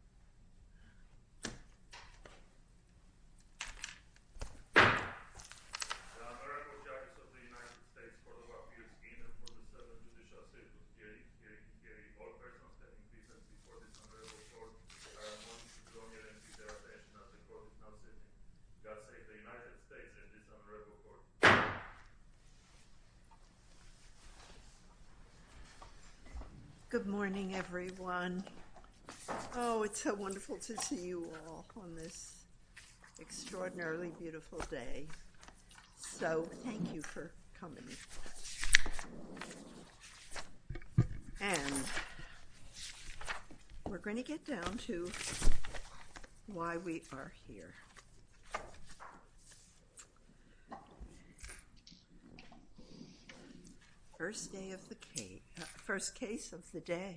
The AmeriCorps judges of the United States Court of Appeals, in and for the self-and-judicial sake of the hearing, all persons having presence before this Honorable Court are admonished to turn their attention as the Court is now sitting. God save the United States and this Honorable Court. Good morning, everyone. Oh, it's so wonderful to see you all on this extraordinarily beautiful day. So thank you for coming. And we're going to get down to why we are here. First case of the day.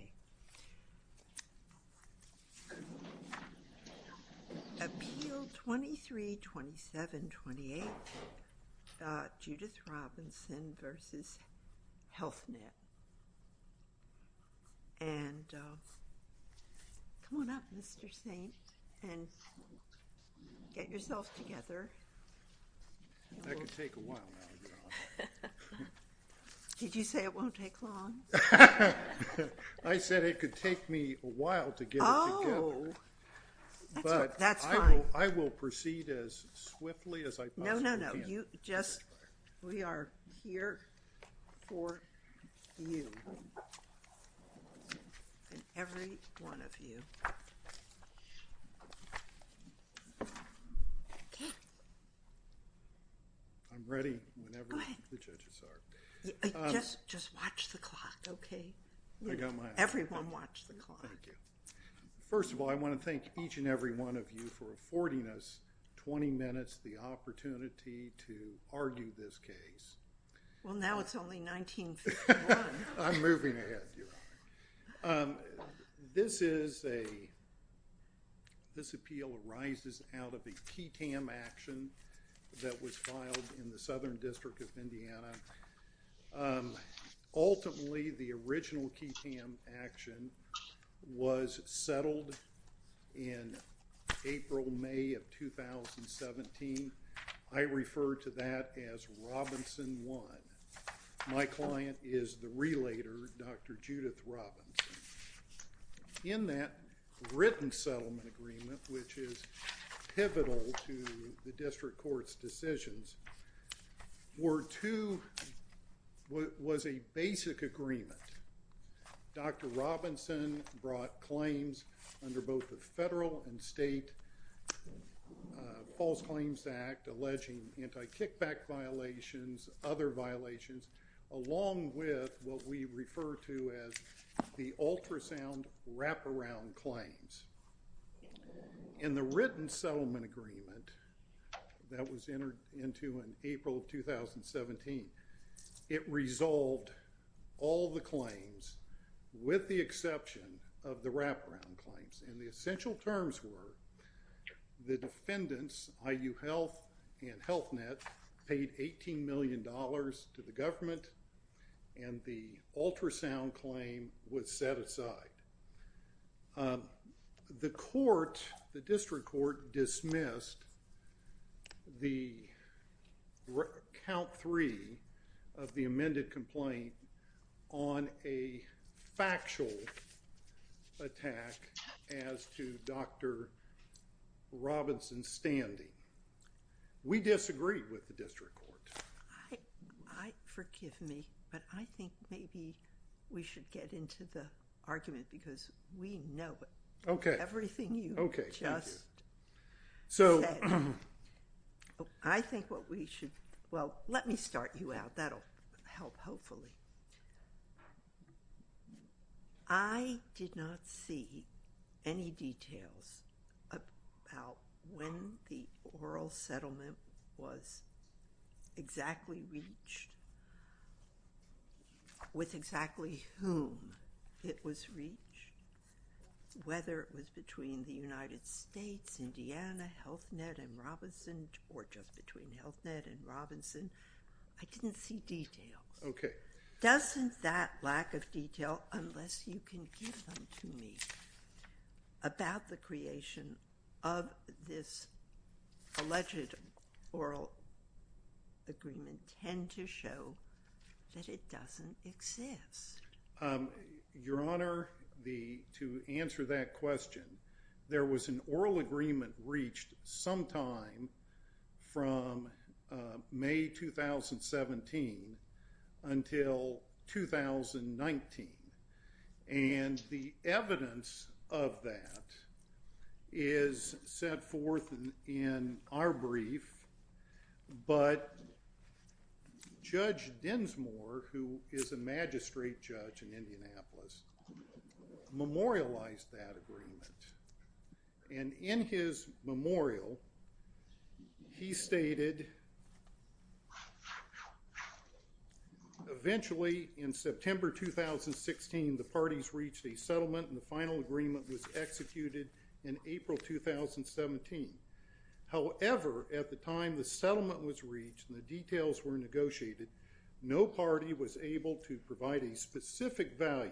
Appeal 23-27-28, Judith Robinson v. Healthnet. And come on up, Mr. St., and get yourself together. That could take a while now to get on. Did you say it won't take long? I said it could take me a while to get it together. Oh, that's fine. But I will proceed as swiftly as I possibly can. No, no, no. We are here for you and every one of you. Okay. I'm ready whenever the judges are. Go ahead. Just watch the clock, okay? Everyone watch the clock. Thank you. First of all, I want to thank each and every one of you for affording us 20 minutes, the opportunity to argue this case. Well, now it's only 1951. I'm moving ahead, Your Honor. This is a – this appeal arises out of a KTAM action that was filed in the Southern District of Indiana. Ultimately, the original KTAM action was settled in April, May of 2017. I refer to that as Robinson 1. My client is the relator, Dr. Judith Robinson. In that written settlement agreement, which is pivotal to the district court's decisions, Ward 2 was a basic agreement. Dr. Robinson brought claims under both the federal and state False Claims Act alleging anti-kickback violations, other violations, along with what we refer to as the ultrasound wraparound claims. In the written settlement agreement that was entered into in April of 2017, it resolved all the claims with the exception of the wraparound claims. And the essential terms were the defendants, IU Health and Health Net, paid $18 million to the government, and the ultrasound claim was set aside. The court, the district court, dismissed the count three of the amended complaint on a factual attack as to Dr. Robinson's standing. We disagree with the district court. Forgive me, but I think maybe we should get into the argument because we know everything you just said. I think what we should—well, let me start you out. That will help hopefully. I did not see any details about when the oral settlement was exactly reached, with exactly whom it was reached, whether it was between the United States, Indiana, Health Net, and Robinson, or just between Health Net and Robinson. I didn't see details. Okay. Doesn't that lack of detail, unless you can give them to me, about the creation of this alleged oral agreement tend to show that it doesn't exist? Your Honor, to answer that question, there was an oral agreement reached sometime from May 2017 until 2019, and the evidence of that is set forth in our brief, but Judge Dinsmore, who is a magistrate judge in Indianapolis, memorialized that agreement, and in his memorial, he stated, eventually in September 2016, the parties reached a settlement, and the final agreement was executed in April 2017. However, at the time the settlement was reached and the details were negotiated, no party was able to provide a specific value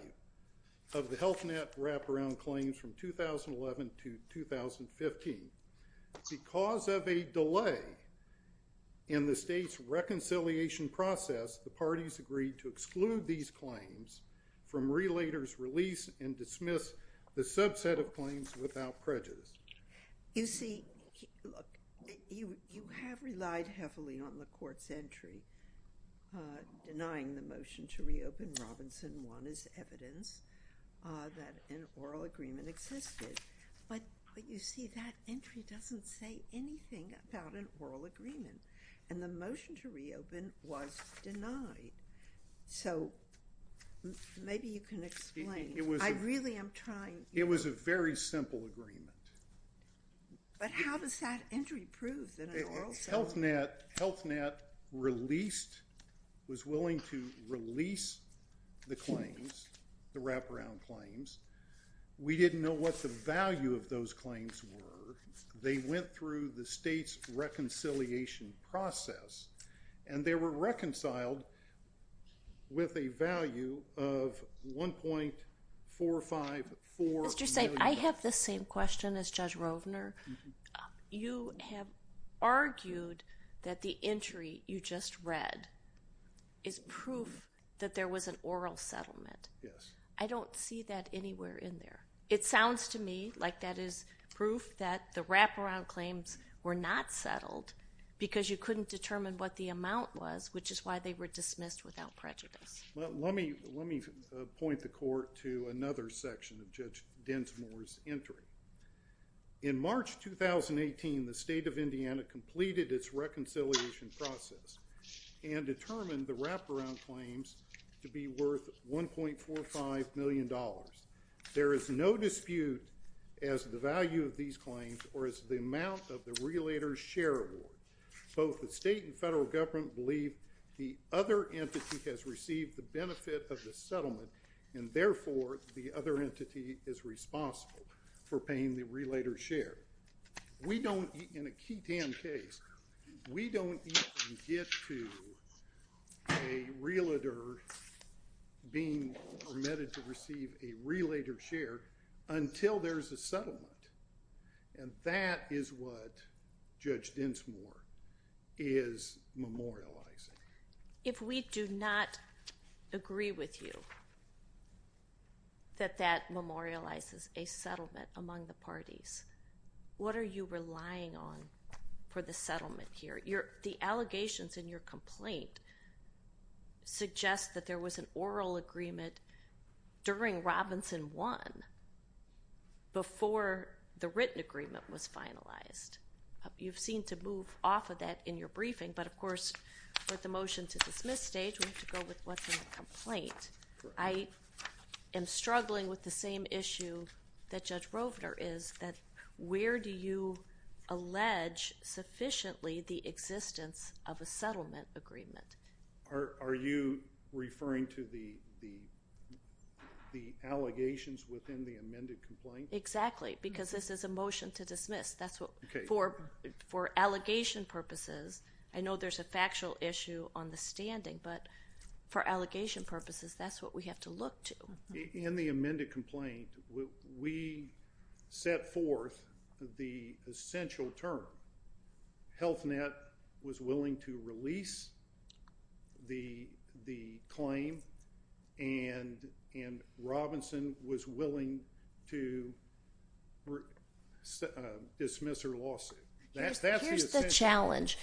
of the Health Net wraparound claims from 2011 to 2015. Because of a delay in the state's reconciliation process, the parties agreed to exclude these claims from Relator's release and dismiss the subset of claims without prejudice. You see, look, you have relied heavily on the Court's entry denying the motion to reopen Robinson 1 as evidence that an oral agreement existed, but you see, that entry doesn't say anything about an oral agreement, and the motion to reopen was denied. So maybe you can explain. I really am trying. It was a very simple agreement. But how does that entry prove that an oral settlement? Health Net released, was willing to release the claims, the wraparound claims. We didn't know what the value of those claims were. They went through the state's reconciliation process, and they were reconciled with a value of $1.454 million. Mr. Sabe, I have the same question as Judge Rovner. You have argued that the entry you just read is proof that there was an oral settlement. Yes. I don't see that anywhere in there. It sounds to me like that is proof that the wraparound claims were not settled because you couldn't determine what the amount was, which is why they were dismissed without prejudice. Well, let me point the Court to another section of Judge Densmore's entry. In March 2018, the state of Indiana completed its reconciliation process and determined the wraparound claims to be worth $1.45 million. There is no dispute as to the value of these claims or as to the amount of the relator's share award. Both the state and federal government believe the other entity has received the benefit of the settlement, and therefore the other entity is responsible for paying the relator's share. We don't, in a Keaton case, we don't even get to a relator being permitted to receive a relator's share until there's a settlement, and that is what Judge Densmore is memorializing. If we do not agree with you that that memorializes a settlement among the parties, what are you relying on for the settlement here? The allegations in your complaint suggest that there was an oral agreement during Robinson 1 before the written agreement was finalized. You've seen to move off of that in your briefing, but of course with the motion to dismiss stage, we have to go with what's in the complaint. I am struggling with the same issue that Judge Rovner is, that where do you allege sufficiently the existence of a settlement agreement? Are you referring to the allegations within the amended complaint? Exactly, because this is a motion to dismiss. For allegation purposes, I know there's a factual issue on the standing, but for allegation purposes, that's what we have to look to. In the amended complaint, we set forth the essential term. Health Net was willing to release the claim, and Robinson was willing to dismiss her lawsuit. Here's the challenge.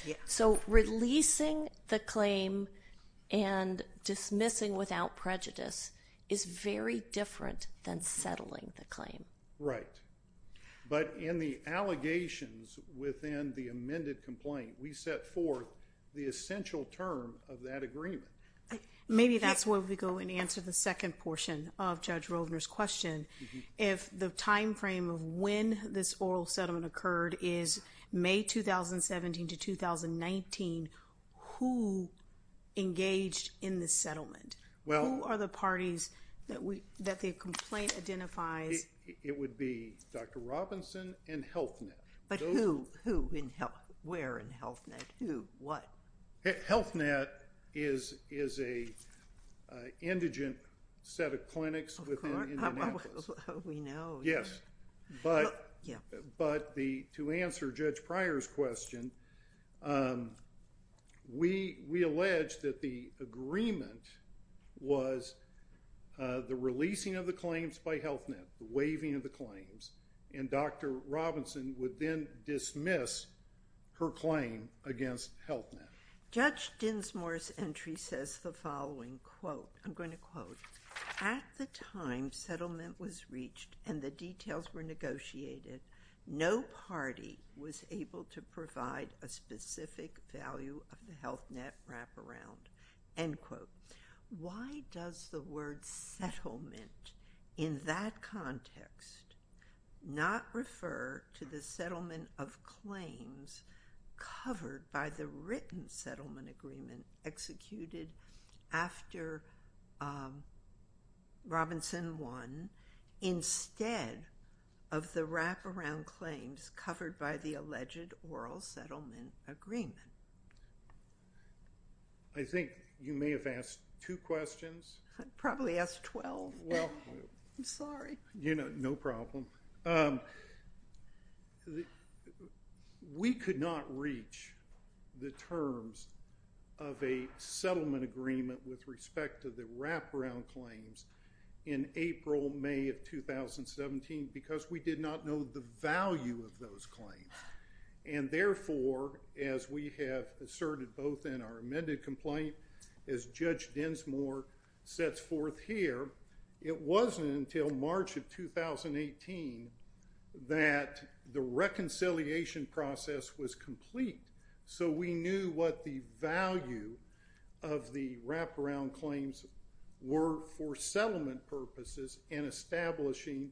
Releasing the claim and dismissing without prejudice is very different than settling the claim. Right, but in the allegations within the amended complaint, we set forth the essential term of that agreement. Maybe that's where we go and answer the second portion of Judge Rovner's question. If the timeframe of when this oral settlement occurred is May 2017 to 2019, who engaged in the settlement? Who are the parties that the complaint identifies? It would be Dr. Robinson and Health Net. But who? Where in Health Net? Who? What? Health Net is an indigent set of clinics within Indianapolis. We know. Yes, but to answer Judge Pryor's question, we allege that the agreement was the releasing of the claims by Health Net, the waiving of the claims, and Dr. Robinson would then dismiss her claim against Health Net. Judge Dinsmore's entry says the following, quote, I'm going to quote, at the time settlement was reached and the details were negotiated, no party was able to provide a specific value of the Health Net wraparound, end quote. Why does the word settlement in that context not refer to the settlement of claims covered by the written settlement agreement executed after Robinson won instead of the wraparound claims covered by the alleged oral settlement agreement? I think you may have asked two questions. I probably asked 12. I'm sorry. No problem. We could not reach the terms of a settlement agreement with respect to the wraparound claims in April, May of 2017 because we did not know the value of those claims. And therefore, as we have asserted both in our amended complaint, as Judge Dinsmore sets forth here, it wasn't until March of 2018 that the reconciliation process was complete. So we knew what the value of the wraparound claims were for settlement purposes and establishing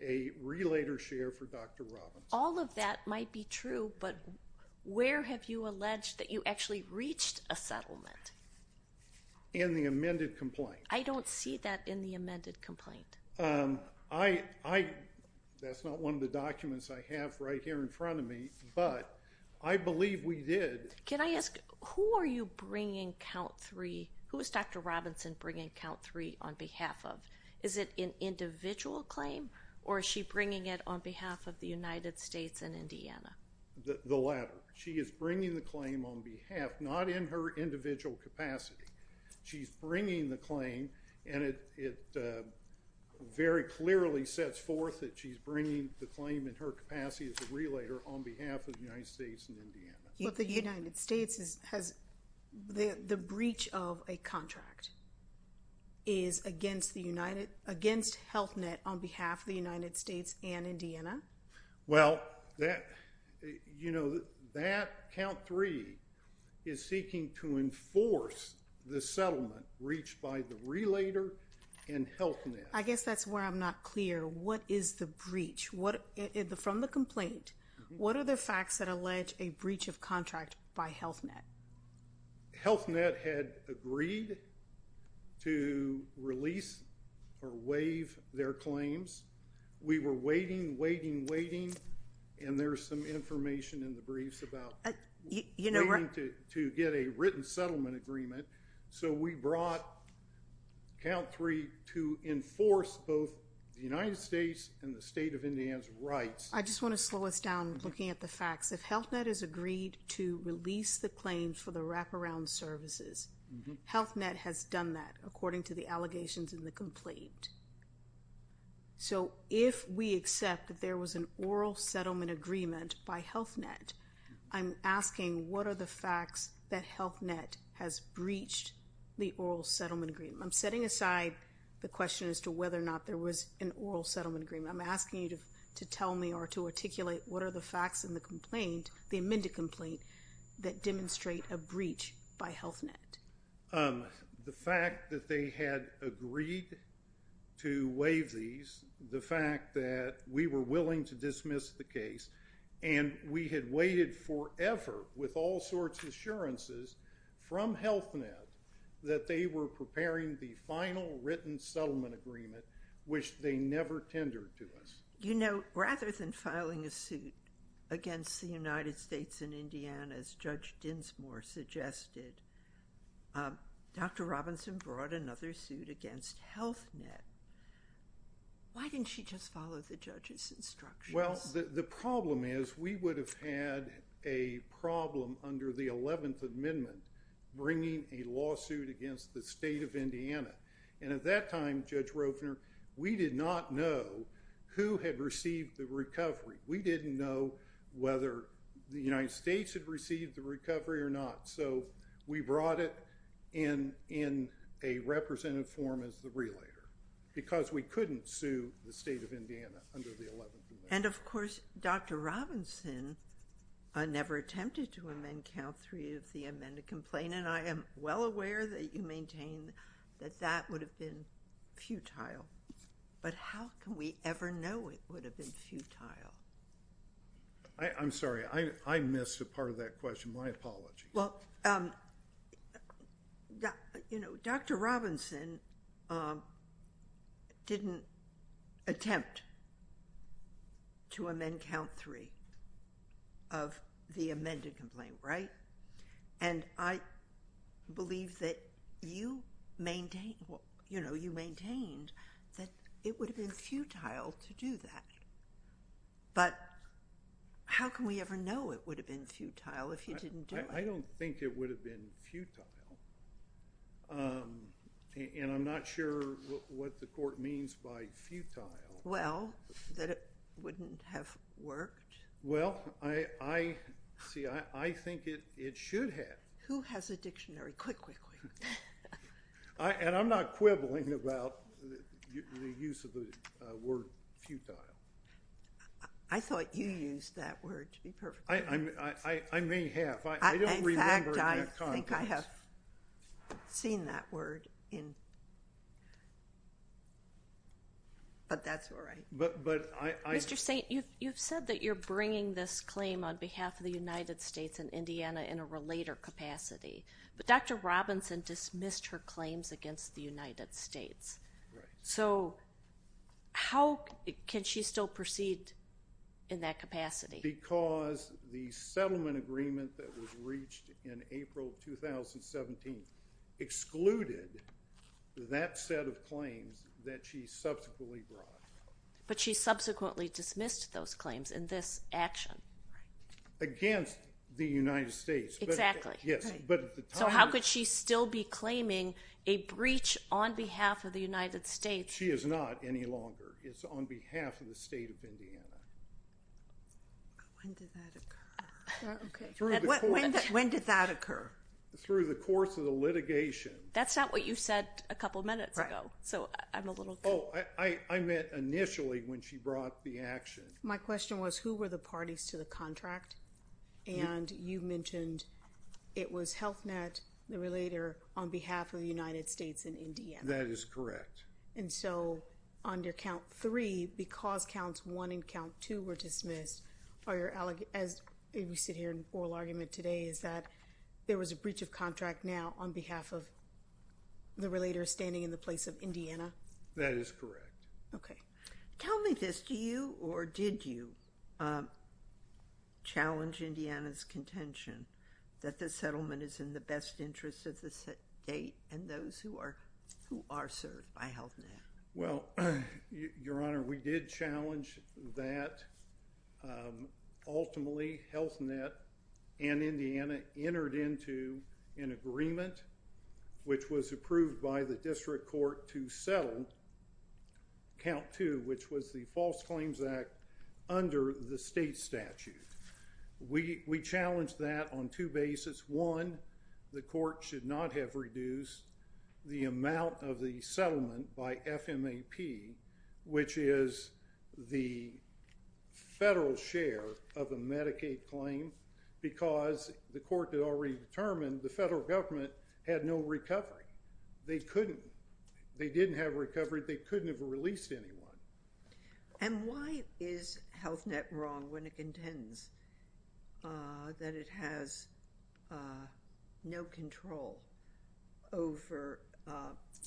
a relater share for Dr. Robinson. All of that might be true, but where have you alleged that you actually reached a settlement? In the amended complaint. I don't see that in the amended complaint. That's not one of the documents I have right here in front of me, but I believe we did. Can I ask, who is Dr. Robinson bringing count three on behalf of? Is it an individual claim, or is she bringing it on behalf of the United States and Indiana? The latter. She is bringing the claim on behalf, not in her individual capacity. She's bringing the claim, and it very clearly sets forth that she's bringing the claim in her capacity as a relater on behalf of the United States and Indiana. But the United States, the breach of a contract is against Health Net on behalf of the United States and Indiana? Well, that count three is seeking to enforce the settlement reached by the relater and Health Net. I guess that's where I'm not clear. What is the breach? From the complaint, what are the facts that allege a breach of contract by Health Net? Health Net had agreed to release or waive their claims. We were waiting, waiting, waiting, and there's some information in the briefs about waiting to get a written settlement agreement. So we brought count three to enforce both the United States and the state of Indiana's rights. I just want to slow us down looking at the facts. If Health Net has agreed to release the claim for the wraparound services, Health Net has done that according to the allegations in the complaint. So if we accept that there was an oral settlement agreement by Health Net, I'm asking what are the facts that Health Net has breached the oral settlement agreement? I'm setting aside the question as to whether or not there was an oral settlement agreement. I'm asking you to tell me or to articulate what are the facts in the complaint, the amended complaint, that demonstrate a breach by Health Net? The fact that they had agreed to waive these, the fact that we were willing to dismiss the case, and we had waited forever with all sorts of assurances from Health Net that they were preparing the final written settlement agreement, which they never tendered to us. You know, rather than filing a suit against the United States and Indiana, as Judge Dinsmore suggested, Dr. Robinson brought another suit against Health Net. Why didn't she just follow the judge's instructions? Well, the problem is we would have had a problem under the 11th Amendment bringing a lawsuit against the state of Indiana. And at that time, Judge Rovner, we did not know who had received the recovery. We didn't know whether the United States had received the recovery or not. So we brought it in a representative form as the relator because we couldn't sue the state of Indiana under the 11th Amendment. And, of course, Dr. Robinson never attempted to amend Count 3 of the amended complaint, and I am well aware that you maintain that that would have been futile. But how can we ever know it would have been futile? I'm sorry, I missed a part of that question. My apologies. Well, you know, Dr. Robinson didn't attempt to amend Count 3 of the amended complaint, right? And I believe that you maintained that it would have been futile to do that. But how can we ever know it would have been futile if you didn't do it? I don't think it would have been futile. And I'm not sure what the court means by futile. Well, that it wouldn't have worked? Well, see, I think it should have. Who has a dictionary? Quick, quick, quick. And I'm not quibbling about the use of the word futile. I thought you used that word to be perfect. I may have. In fact, I think I have seen that word. But that's all right. Mr. Saint, you've said that you're bringing this claim on behalf of the United States and Indiana in a relater capacity. But Dr. Robinson dismissed her claims against the United States. Right. So how can she still proceed in that capacity? Because the settlement agreement that was reached in April of 2017 excluded that set of claims that she subsequently brought. But she subsequently dismissed those claims in this action. Right. Against the United States. Exactly. Yes. So how could she still be claiming a breach on behalf of the United States? She is not any longer. It's on behalf of the state of Indiana. When did that occur? When did that occur? Through the course of the litigation. That's not what you said a couple minutes ago. Right. So I'm a little confused. Oh, I meant initially when she brought the action. My question was, who were the parties to the contract? And you mentioned it was Health Net, the relater, on behalf of the United States and Indiana. That is correct. And so under count three, because counts one and count two were dismissed, as we sit here in oral argument today, is that there was a breach of contract now on behalf of the relater standing in the place of Indiana? That is correct. Okay. Tell me this. Do you or did you challenge Indiana's contention that the settlement is in the best interest of the state and those who are served by Health Net? Well, Your Honor, we did challenge that. Ultimately, Health Net and Indiana entered into an agreement, which was approved by the district court to settle count two, which was the False Claims Act under the state statute. We challenged that on two bases. One, the court should not have reduced the amount of the settlement by FMAP, which is the federal share of a Medicaid claim because the court had already determined the federal government had no recovery. They couldn't. They didn't have recovery. They couldn't have released anyone. And why is Health Net wrong when it contends that it has no control over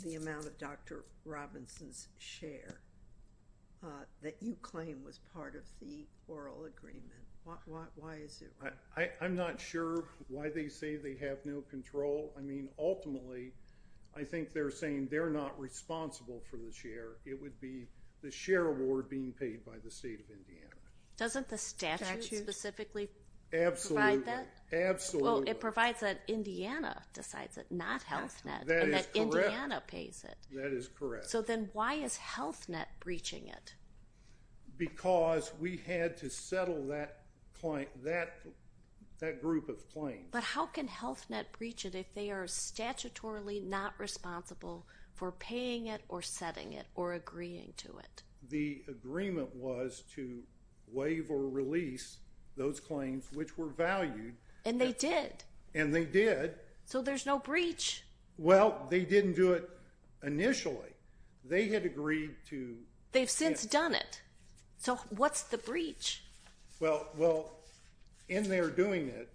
the amount of Dr. Robinson's share that you claim was part of the oral agreement? Why is it wrong? I'm not sure why they say they have no control. I mean, ultimately, I think they're saying they're not responsible for the share. It would be the share award being paid by the state of Indiana. Doesn't the statute specifically provide that? Absolutely. Well, it provides that Indiana decides it, not Health Net, and that Indiana pays it. That is correct. So then why is Health Net breaching it? Because we had to settle that group of claims. But how can Health Net breach it if they are statutorily not responsible for paying it or setting it or agreeing to it? The agreement was to waive or release those claims, which were valued. And they did. And they did. So there's no breach. Well, they didn't do it initially. They had agreed to. They've since done it. So what's the breach? Well, in their doing it,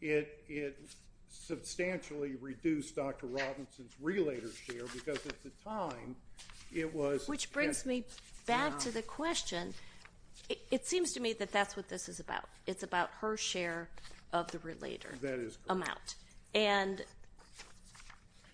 it substantially reduced Dr. Robinson's relator share because at the time it was at. Which brings me back to the question. It seems to me that that's what this is about. It's about her share of the relator amount. That is correct. And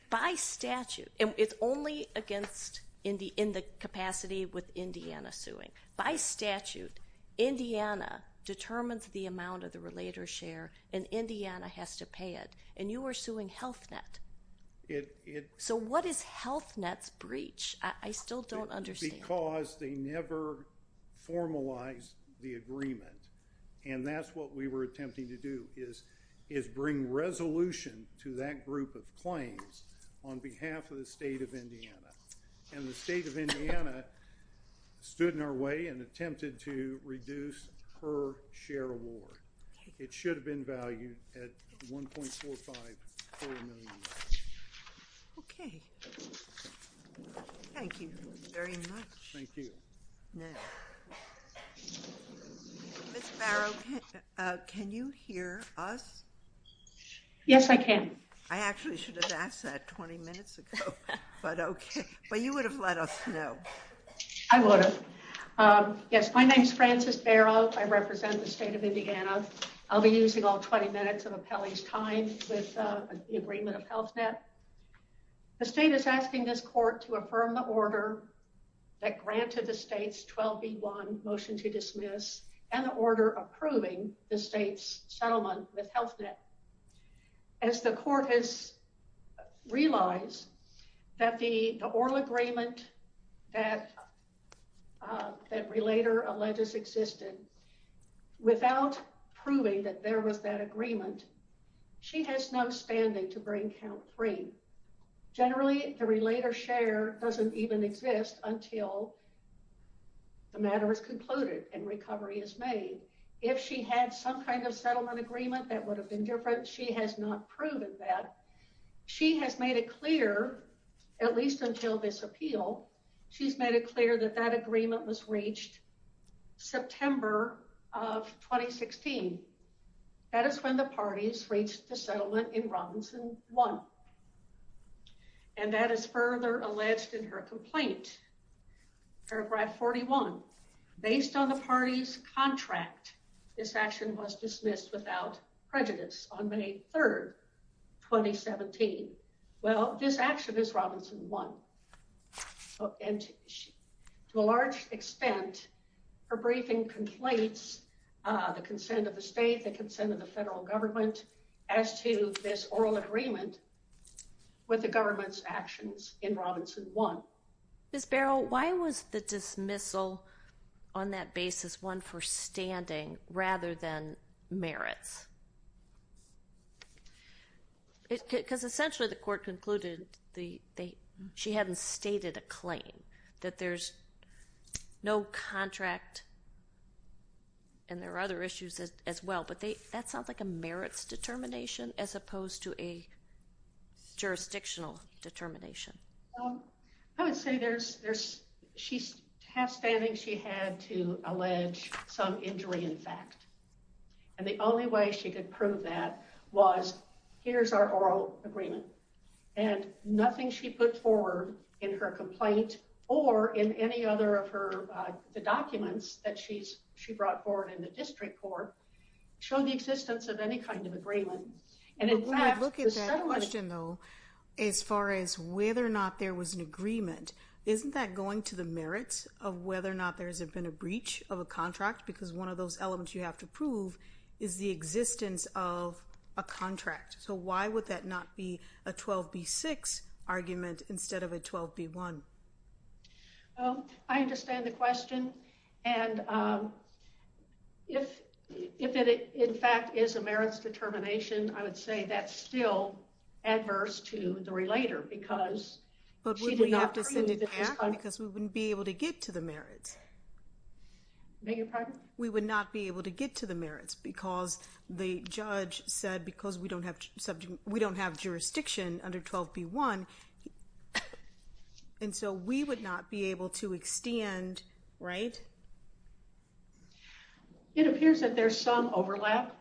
by statute, and it's only in the capacity with Indiana suing. By statute, Indiana determines the amount of the relator share, and Indiana has to pay it. And you are suing Health Net. So what is Health Net's breach? I still don't understand. Because they never formalized the agreement. And that's what we were attempting to do is bring resolution to that group of claims on behalf of the state of Indiana. And the state of Indiana stood in our way and attempted to reduce her share award. It should have been valued at $1.45 million. Okay. Thank you very much. Thank you. Ms. Barrow, can you hear us? Yes, I can. I actually should have asked that 20 minutes ago. But okay. But you would have let us know. I would have. Yes, my name is Frances Barrow. I represent the state of Indiana. I'll be using all 20 minutes of appellee's time with the agreement of Health Net. The state is asking this court to affirm the order that granted the state's 12B1 motion to dismiss and the order approving the state's settlement with Health Net. As the court has realized that the oral agreement that Relater alleges existed, without proving that there was that agreement, she has no standing to bring count three. Generally, the Relater share doesn't even exist until the matter is concluded and recovery is made. If she had some kind of settlement agreement that would have been different, she has not proven that. She has made it clear, at least until this appeal, she's made it clear that that agreement was reached September of 2016. That is when the parties reached the settlement in Robinson 1. And that is further alleged in her complaint. Paragraph 41. Based on the party's contract, this action was dismissed without prejudice on May 3rd, 2017. Well, this action is Robinson 1. And to a large extent, her briefing conflates the consent of the state, the consent of the federal government as to this oral agreement with the government's actions in Robinson 1. Ms. Barrow, why was the dismissal on that basis one for standing rather than merits? Because essentially the court concluded she hadn't stated a claim, that there's no contract and there are other issues as well. But that sounds like a merits determination as opposed to a jurisdictional determination. I would say she's half-standing she had to allege some injury in fact. And the only way she could prove that was, here's our oral agreement. And nothing she put forward in her complaint or in any other of the documents that she brought forward in the district court showed the existence of any kind of agreement. We would look at that question, though, as far as whether or not there was an agreement. Isn't that going to the merits of whether or not there's been a breach of a contract? Because one of those elements you have to prove is the existence of a contract. So why would that not be a 12b-6 argument instead of a 12b-1? I understand the question. And if it in fact is a merits determination, I would say that's still adverse to the relator because she did not prove that there's a contract. But would we have to send it back because we wouldn't be able to get to the merits? Beg your pardon? We would not be able to get to the merits because the judge said because we don't have jurisdiction under 12b-1. And so we would not be able to extend, right? It appears that there's some overlap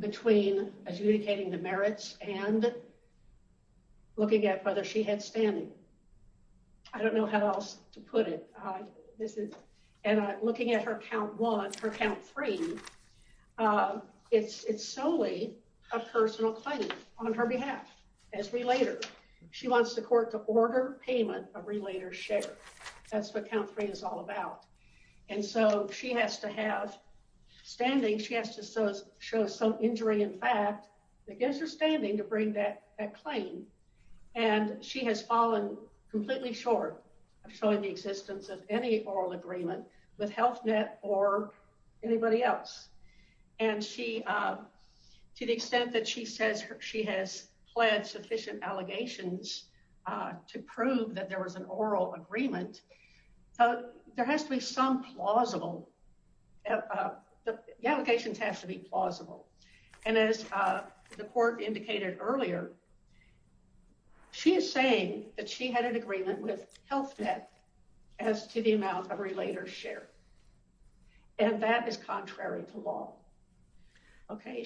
between adjudicating the merits and looking at whether she had standing. I don't know how else to put it. And looking at her count one, her count three, it's solely a personal claim on her behalf as relator. She wants the court to order payment of relator's share. That's what count three is all about. And so she has to have standing. She has to show some injury in fact against her standing to bring that claim. And she has fallen completely short of showing the existence of any oral agreement with Health Net or anybody else. And to the extent that she says she has pled sufficient allegations to prove that there was an oral agreement, there has to be some plausible. The allegations have to be plausible. And as the court indicated earlier, she is saying that she had an agreement with Health Net as to the amount of relator's share. And that is contrary to law. Okay.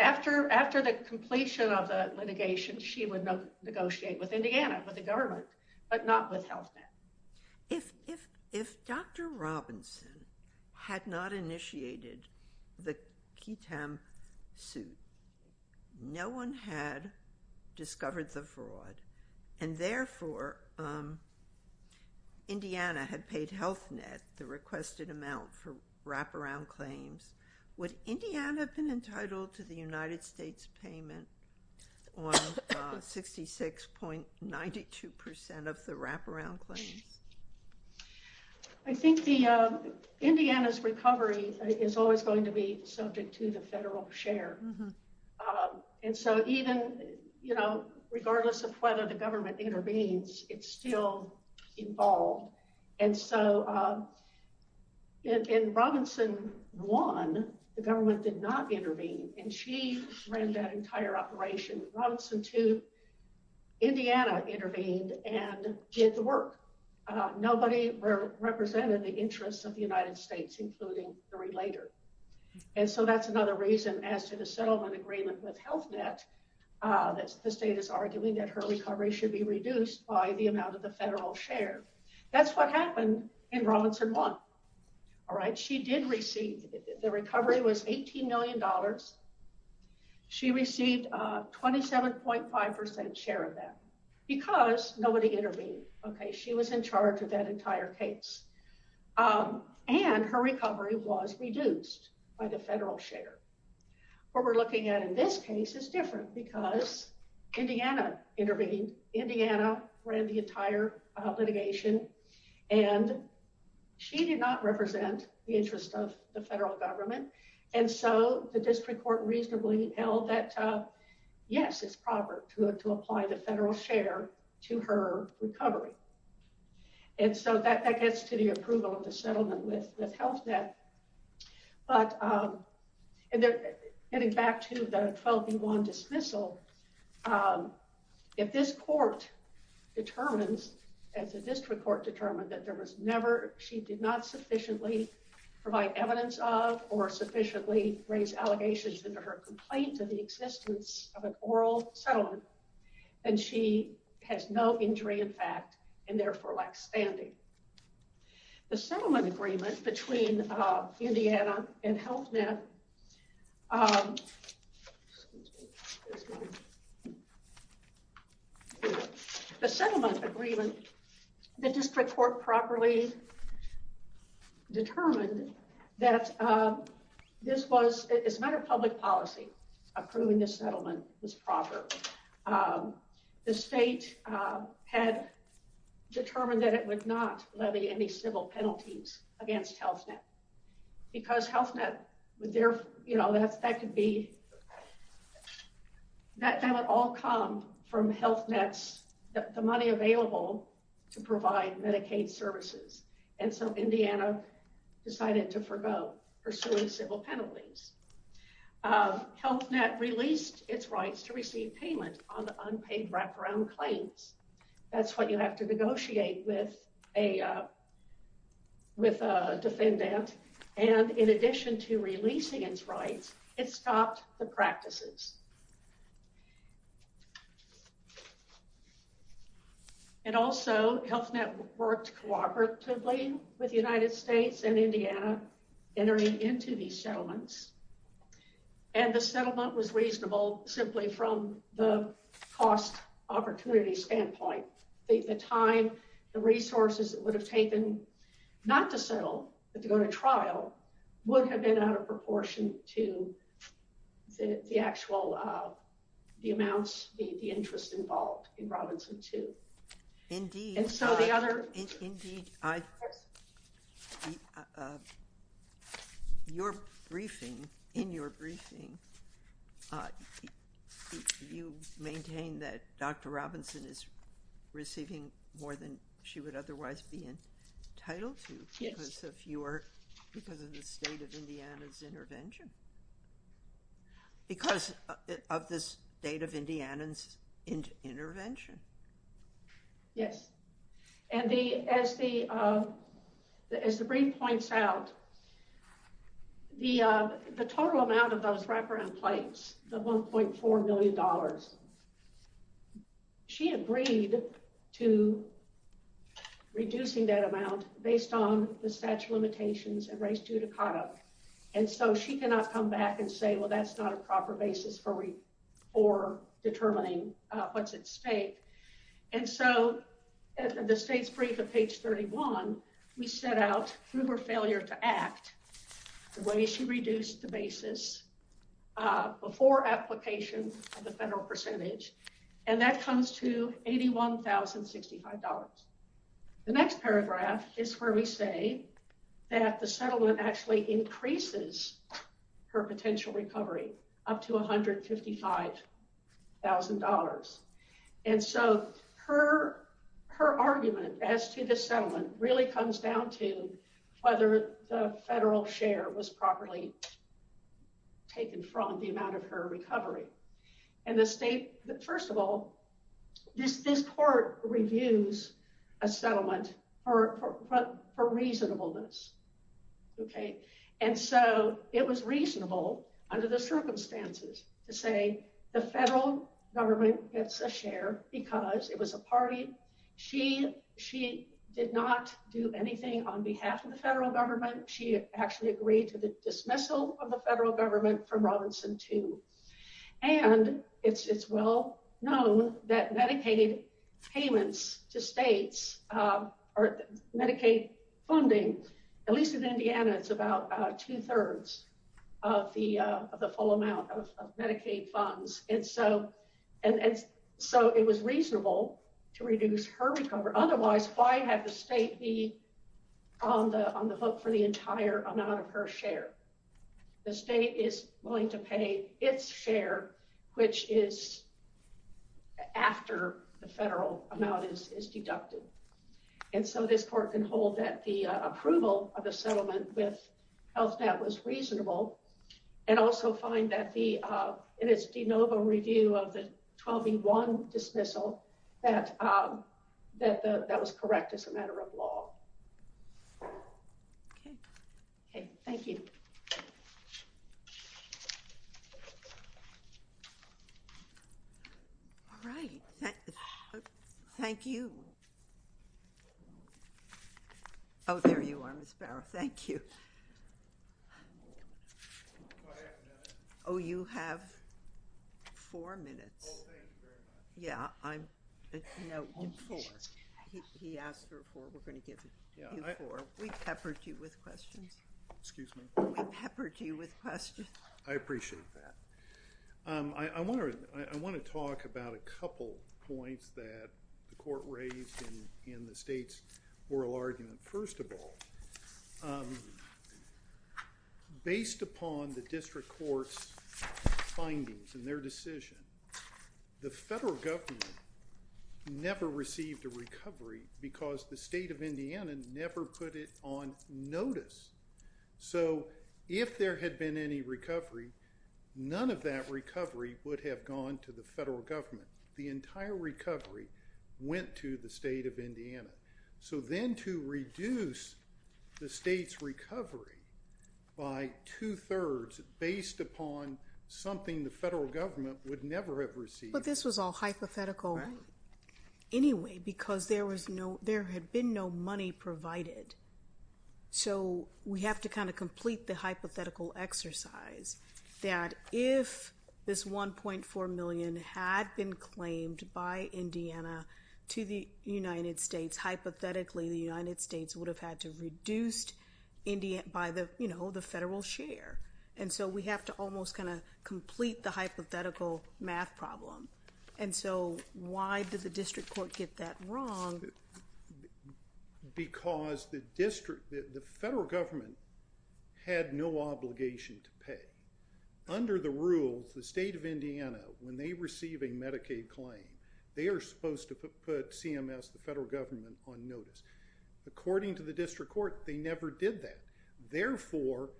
After the completion of the litigation, she would negotiate with Indiana, with the government, but not with Health Net. If Dr. Robinson had not initiated the QUTEM suit, no one had discovered the fraud, and therefore Indiana had paid Health Net the requested amount for wraparound claims, would Indiana have been entitled to the United States payment on 66.92% of the wraparound claims? I think Indiana's recovery is always going to be subject to the federal share. And so even regardless of whether the government intervenes, it's still involved. And so in Robinson 1, the government did not intervene, and she ran that entire operation. In Robinson 2, Indiana intervened and did the work. Nobody represented the interests of the United States, including the relator. And so that's another reason as to the settlement agreement with Health Net that the state is arguing that her recovery should be reduced by the amount of the federal share. That's what happened in Robinson 1. All right. She did receive, the recovery was $18 million. She received a 27.5% share of that because nobody intervened. Okay. She was in charge of that entire case. And her recovery was reduced by the federal share. What we're looking at in this case is different because Indiana intervened. Indiana ran the entire litigation, and she did not represent the interest of the federal government. And so the district court reasonably held that, yes, it's proper to apply the federal share to her recovery. And so that gets to the approval of the settlement with Health Net. But getting back to the 12v1 dismissal, if this court determines, as the district court determined, that there was never, she did not sufficiently provide evidence of or sufficiently raise allegations into her complaint of the existence of an oral settlement, then she has no injury in fact, and therefore lacks standing. The settlement agreement between Indiana and Health Net. The settlement agreement, the district court properly determined that this was, as a matter of public policy, approving the settlement was proper. The state had determined that it would not levy any civil penalties against Health Net because Health Net, you know, that could be, that would all come from Health Net's, the money available to provide Medicaid services. And so Indiana decided to forego pursuing civil penalties. Health Net released its rights to receive payment on the unpaid wraparound claims. That's what you have to negotiate with a defendant. And in addition to releasing its rights, it stopped the practices. And also Health Net worked cooperatively with the United States and Indiana entering into these settlements. And the settlement was reasonable, simply from the cost opportunity standpoint. The time, the resources it would have taken not to settle, but to go to trial would have been out of proportion to the actual, the amounts, the interest involved in Robinson too. Indeed. Indeed. Your briefing, in your briefing, you maintain that Dr. Robinson is receiving more than she would otherwise be entitled to because of your, because of the state of Indiana's intervention. Because of the state of Indiana's intervention. Yes. And the, as the, as the brief points out, the, the total amount of those wraparound claims, the $1.4 million. She agreed to reducing that amount based on the statute of limitations and race judicata. And so she cannot come back and say, well, that's not a proper basis for, for determining what's at stake. And so the state's brief of page 31, we set out through her failure to act the way she reduced the basis before application of the federal percentage, and that comes to $81,065. The next paragraph is where we say that the settlement actually increases her potential recovery up to $155,000. And so her, her argument as to the settlement really comes down to whether the federal share was properly taken from the amount of her recovery. And the state, first of all, this, this court reviews a settlement for reasonableness. Okay. And so it was reasonable under the circumstances to say the federal government gets a share, because it was a party. She, she did not do anything on behalf of the federal government, she actually agreed to the dismissal of the federal government from Robinson too. And it's, it's well known that Medicaid payments to states, or Medicaid funding, at least in Indiana, it's about two thirds of the, of the full amount of Medicaid funds. And so, and so it was reasonable to reduce her recovery. Otherwise, why have the state be on the, on the hook for the entire amount of her share. The state is willing to pay its share, which is after the federal amount is deducted. And so this court can hold that the approval of the settlement with HealthNet was reasonable, and also find that the, in its de novo review of the 1201 dismissal, that, that, that was correct as a matter of law. Okay. Okay. Thank you. All right. Thank you. Oh, there you are, Ms. Barrow. Thank you. Oh, you have four minutes. Oh, thank you very much. Yeah, I'm, no, four. He asked for four. We're going to give you four. We peppered you with questions. Excuse me? We peppered you with questions. I appreciate that. I want to, I want to talk about a couple points that the court raised in, in the state's oral argument. First of all, based upon the district court's findings and their decision, the federal government never received a recovery because the state of Indiana never put it on notice. So if there had been any recovery, none of that recovery would have gone to the federal government. The entire recovery went to the state of Indiana. So then to reduce the state's recovery by two thirds, based upon something the federal government would never have received. But this was all hypothetical anyway, because there was no, there had been no money provided. So we have to kind of complete the hypothetical exercise that if this 1.4 million had been claimed by Indiana to the United States, hypothetically the United States would have had to reduce India by the, you know, the federal share. And so we have to almost kind of complete the hypothetical math problem. And so why did the district court get that wrong? Because the district, the federal government had no obligation to pay. Under the rules, the state of Indiana, when they receive a Medicaid claim, they are supposed to put CMS, the federal government, on notice. According to the district court, they never did that. Therefore,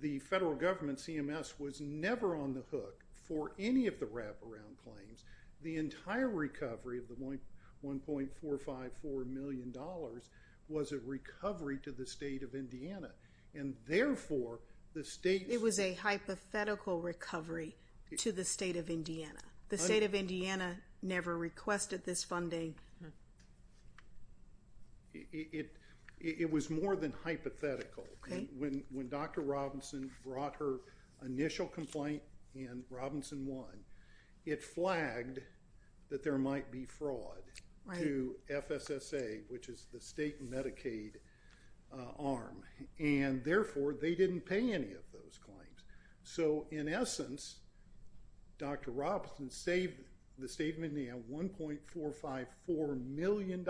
the federal government, CMS, was never on the hook for any of the wraparound claims. The entire recovery of the $1.454 million was a recovery to the state of Indiana. And therefore, the state. It was a hypothetical recovery to the state of Indiana. The state of Indiana never requested this funding. It was more than hypothetical. When Dr. Robinson brought her initial complaint in Robinson 1, it flagged that there might be fraud to FSSA, which is the state Medicaid arm. And therefore, they didn't pay any of those claims. So, in essence, Dr. Robinson saved the state of Indiana $1.454 million.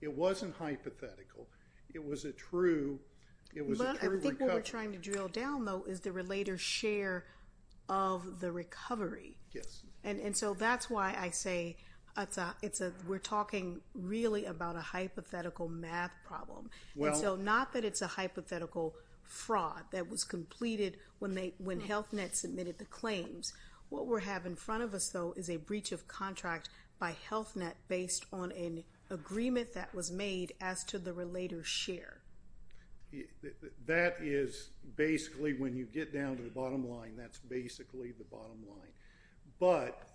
It wasn't hypothetical. It was a true recovery. But I think what we're trying to drill down, though, is the related share of the recovery. Yes. And so that's why I say we're talking really about a hypothetical math problem. And so not that it's a hypothetical fraud that was completed when Health Net submitted the claims. What we have in front of us, though, is a breach of contract by Health Net based on an agreement that was made as to the related share. That is basically when you get down to the bottom line, that's basically the bottom line. But,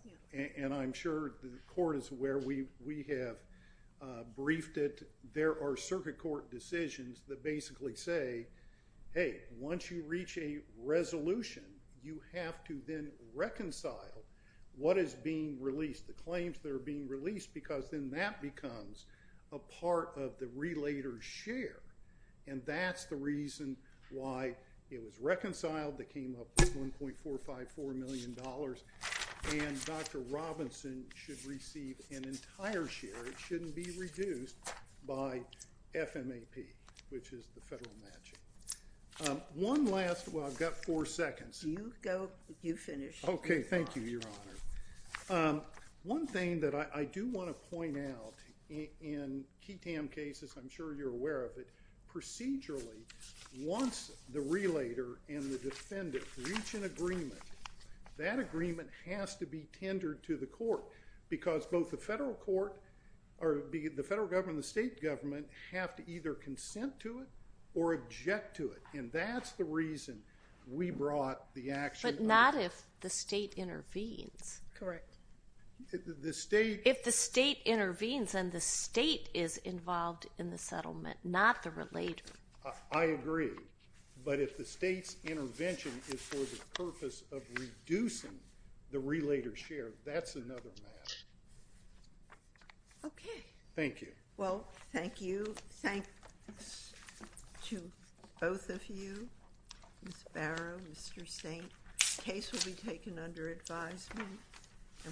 and I'm sure the court is aware, we have briefed it. But there are circuit court decisions that basically say, hey, once you reach a resolution, you have to then reconcile what is being released, the claims that are being released, because then that becomes a part of the related share. And that's the reason why it was reconciled. It came up with $1.454 million. And Dr. Robinson should receive an entire share. It shouldn't be reduced by FMAP, which is the federal matching. One last, well, I've got four seconds. You go. You finish. OK. Thank you, Your Honor. One thing that I do want to point out in KETAM cases, I'm sure you're aware of it, procedurally, once the relator and the defendant reach an agreement, that agreement has to be tendered to the court. Because both the federal court or the federal government and the state government have to either consent to it or object to it. And that's the reason we brought the action. But not if the state intervenes. Correct. If the state intervenes, then the state is involved in the settlement, not the relator. I agree. But if the state's intervention is for the purpose of reducing the relator's share, that's another matter. OK. Thank you. Well, thank you. Thanks to both of you, Ms. Barrow, Mr. Stank. The case will be taken under advisement.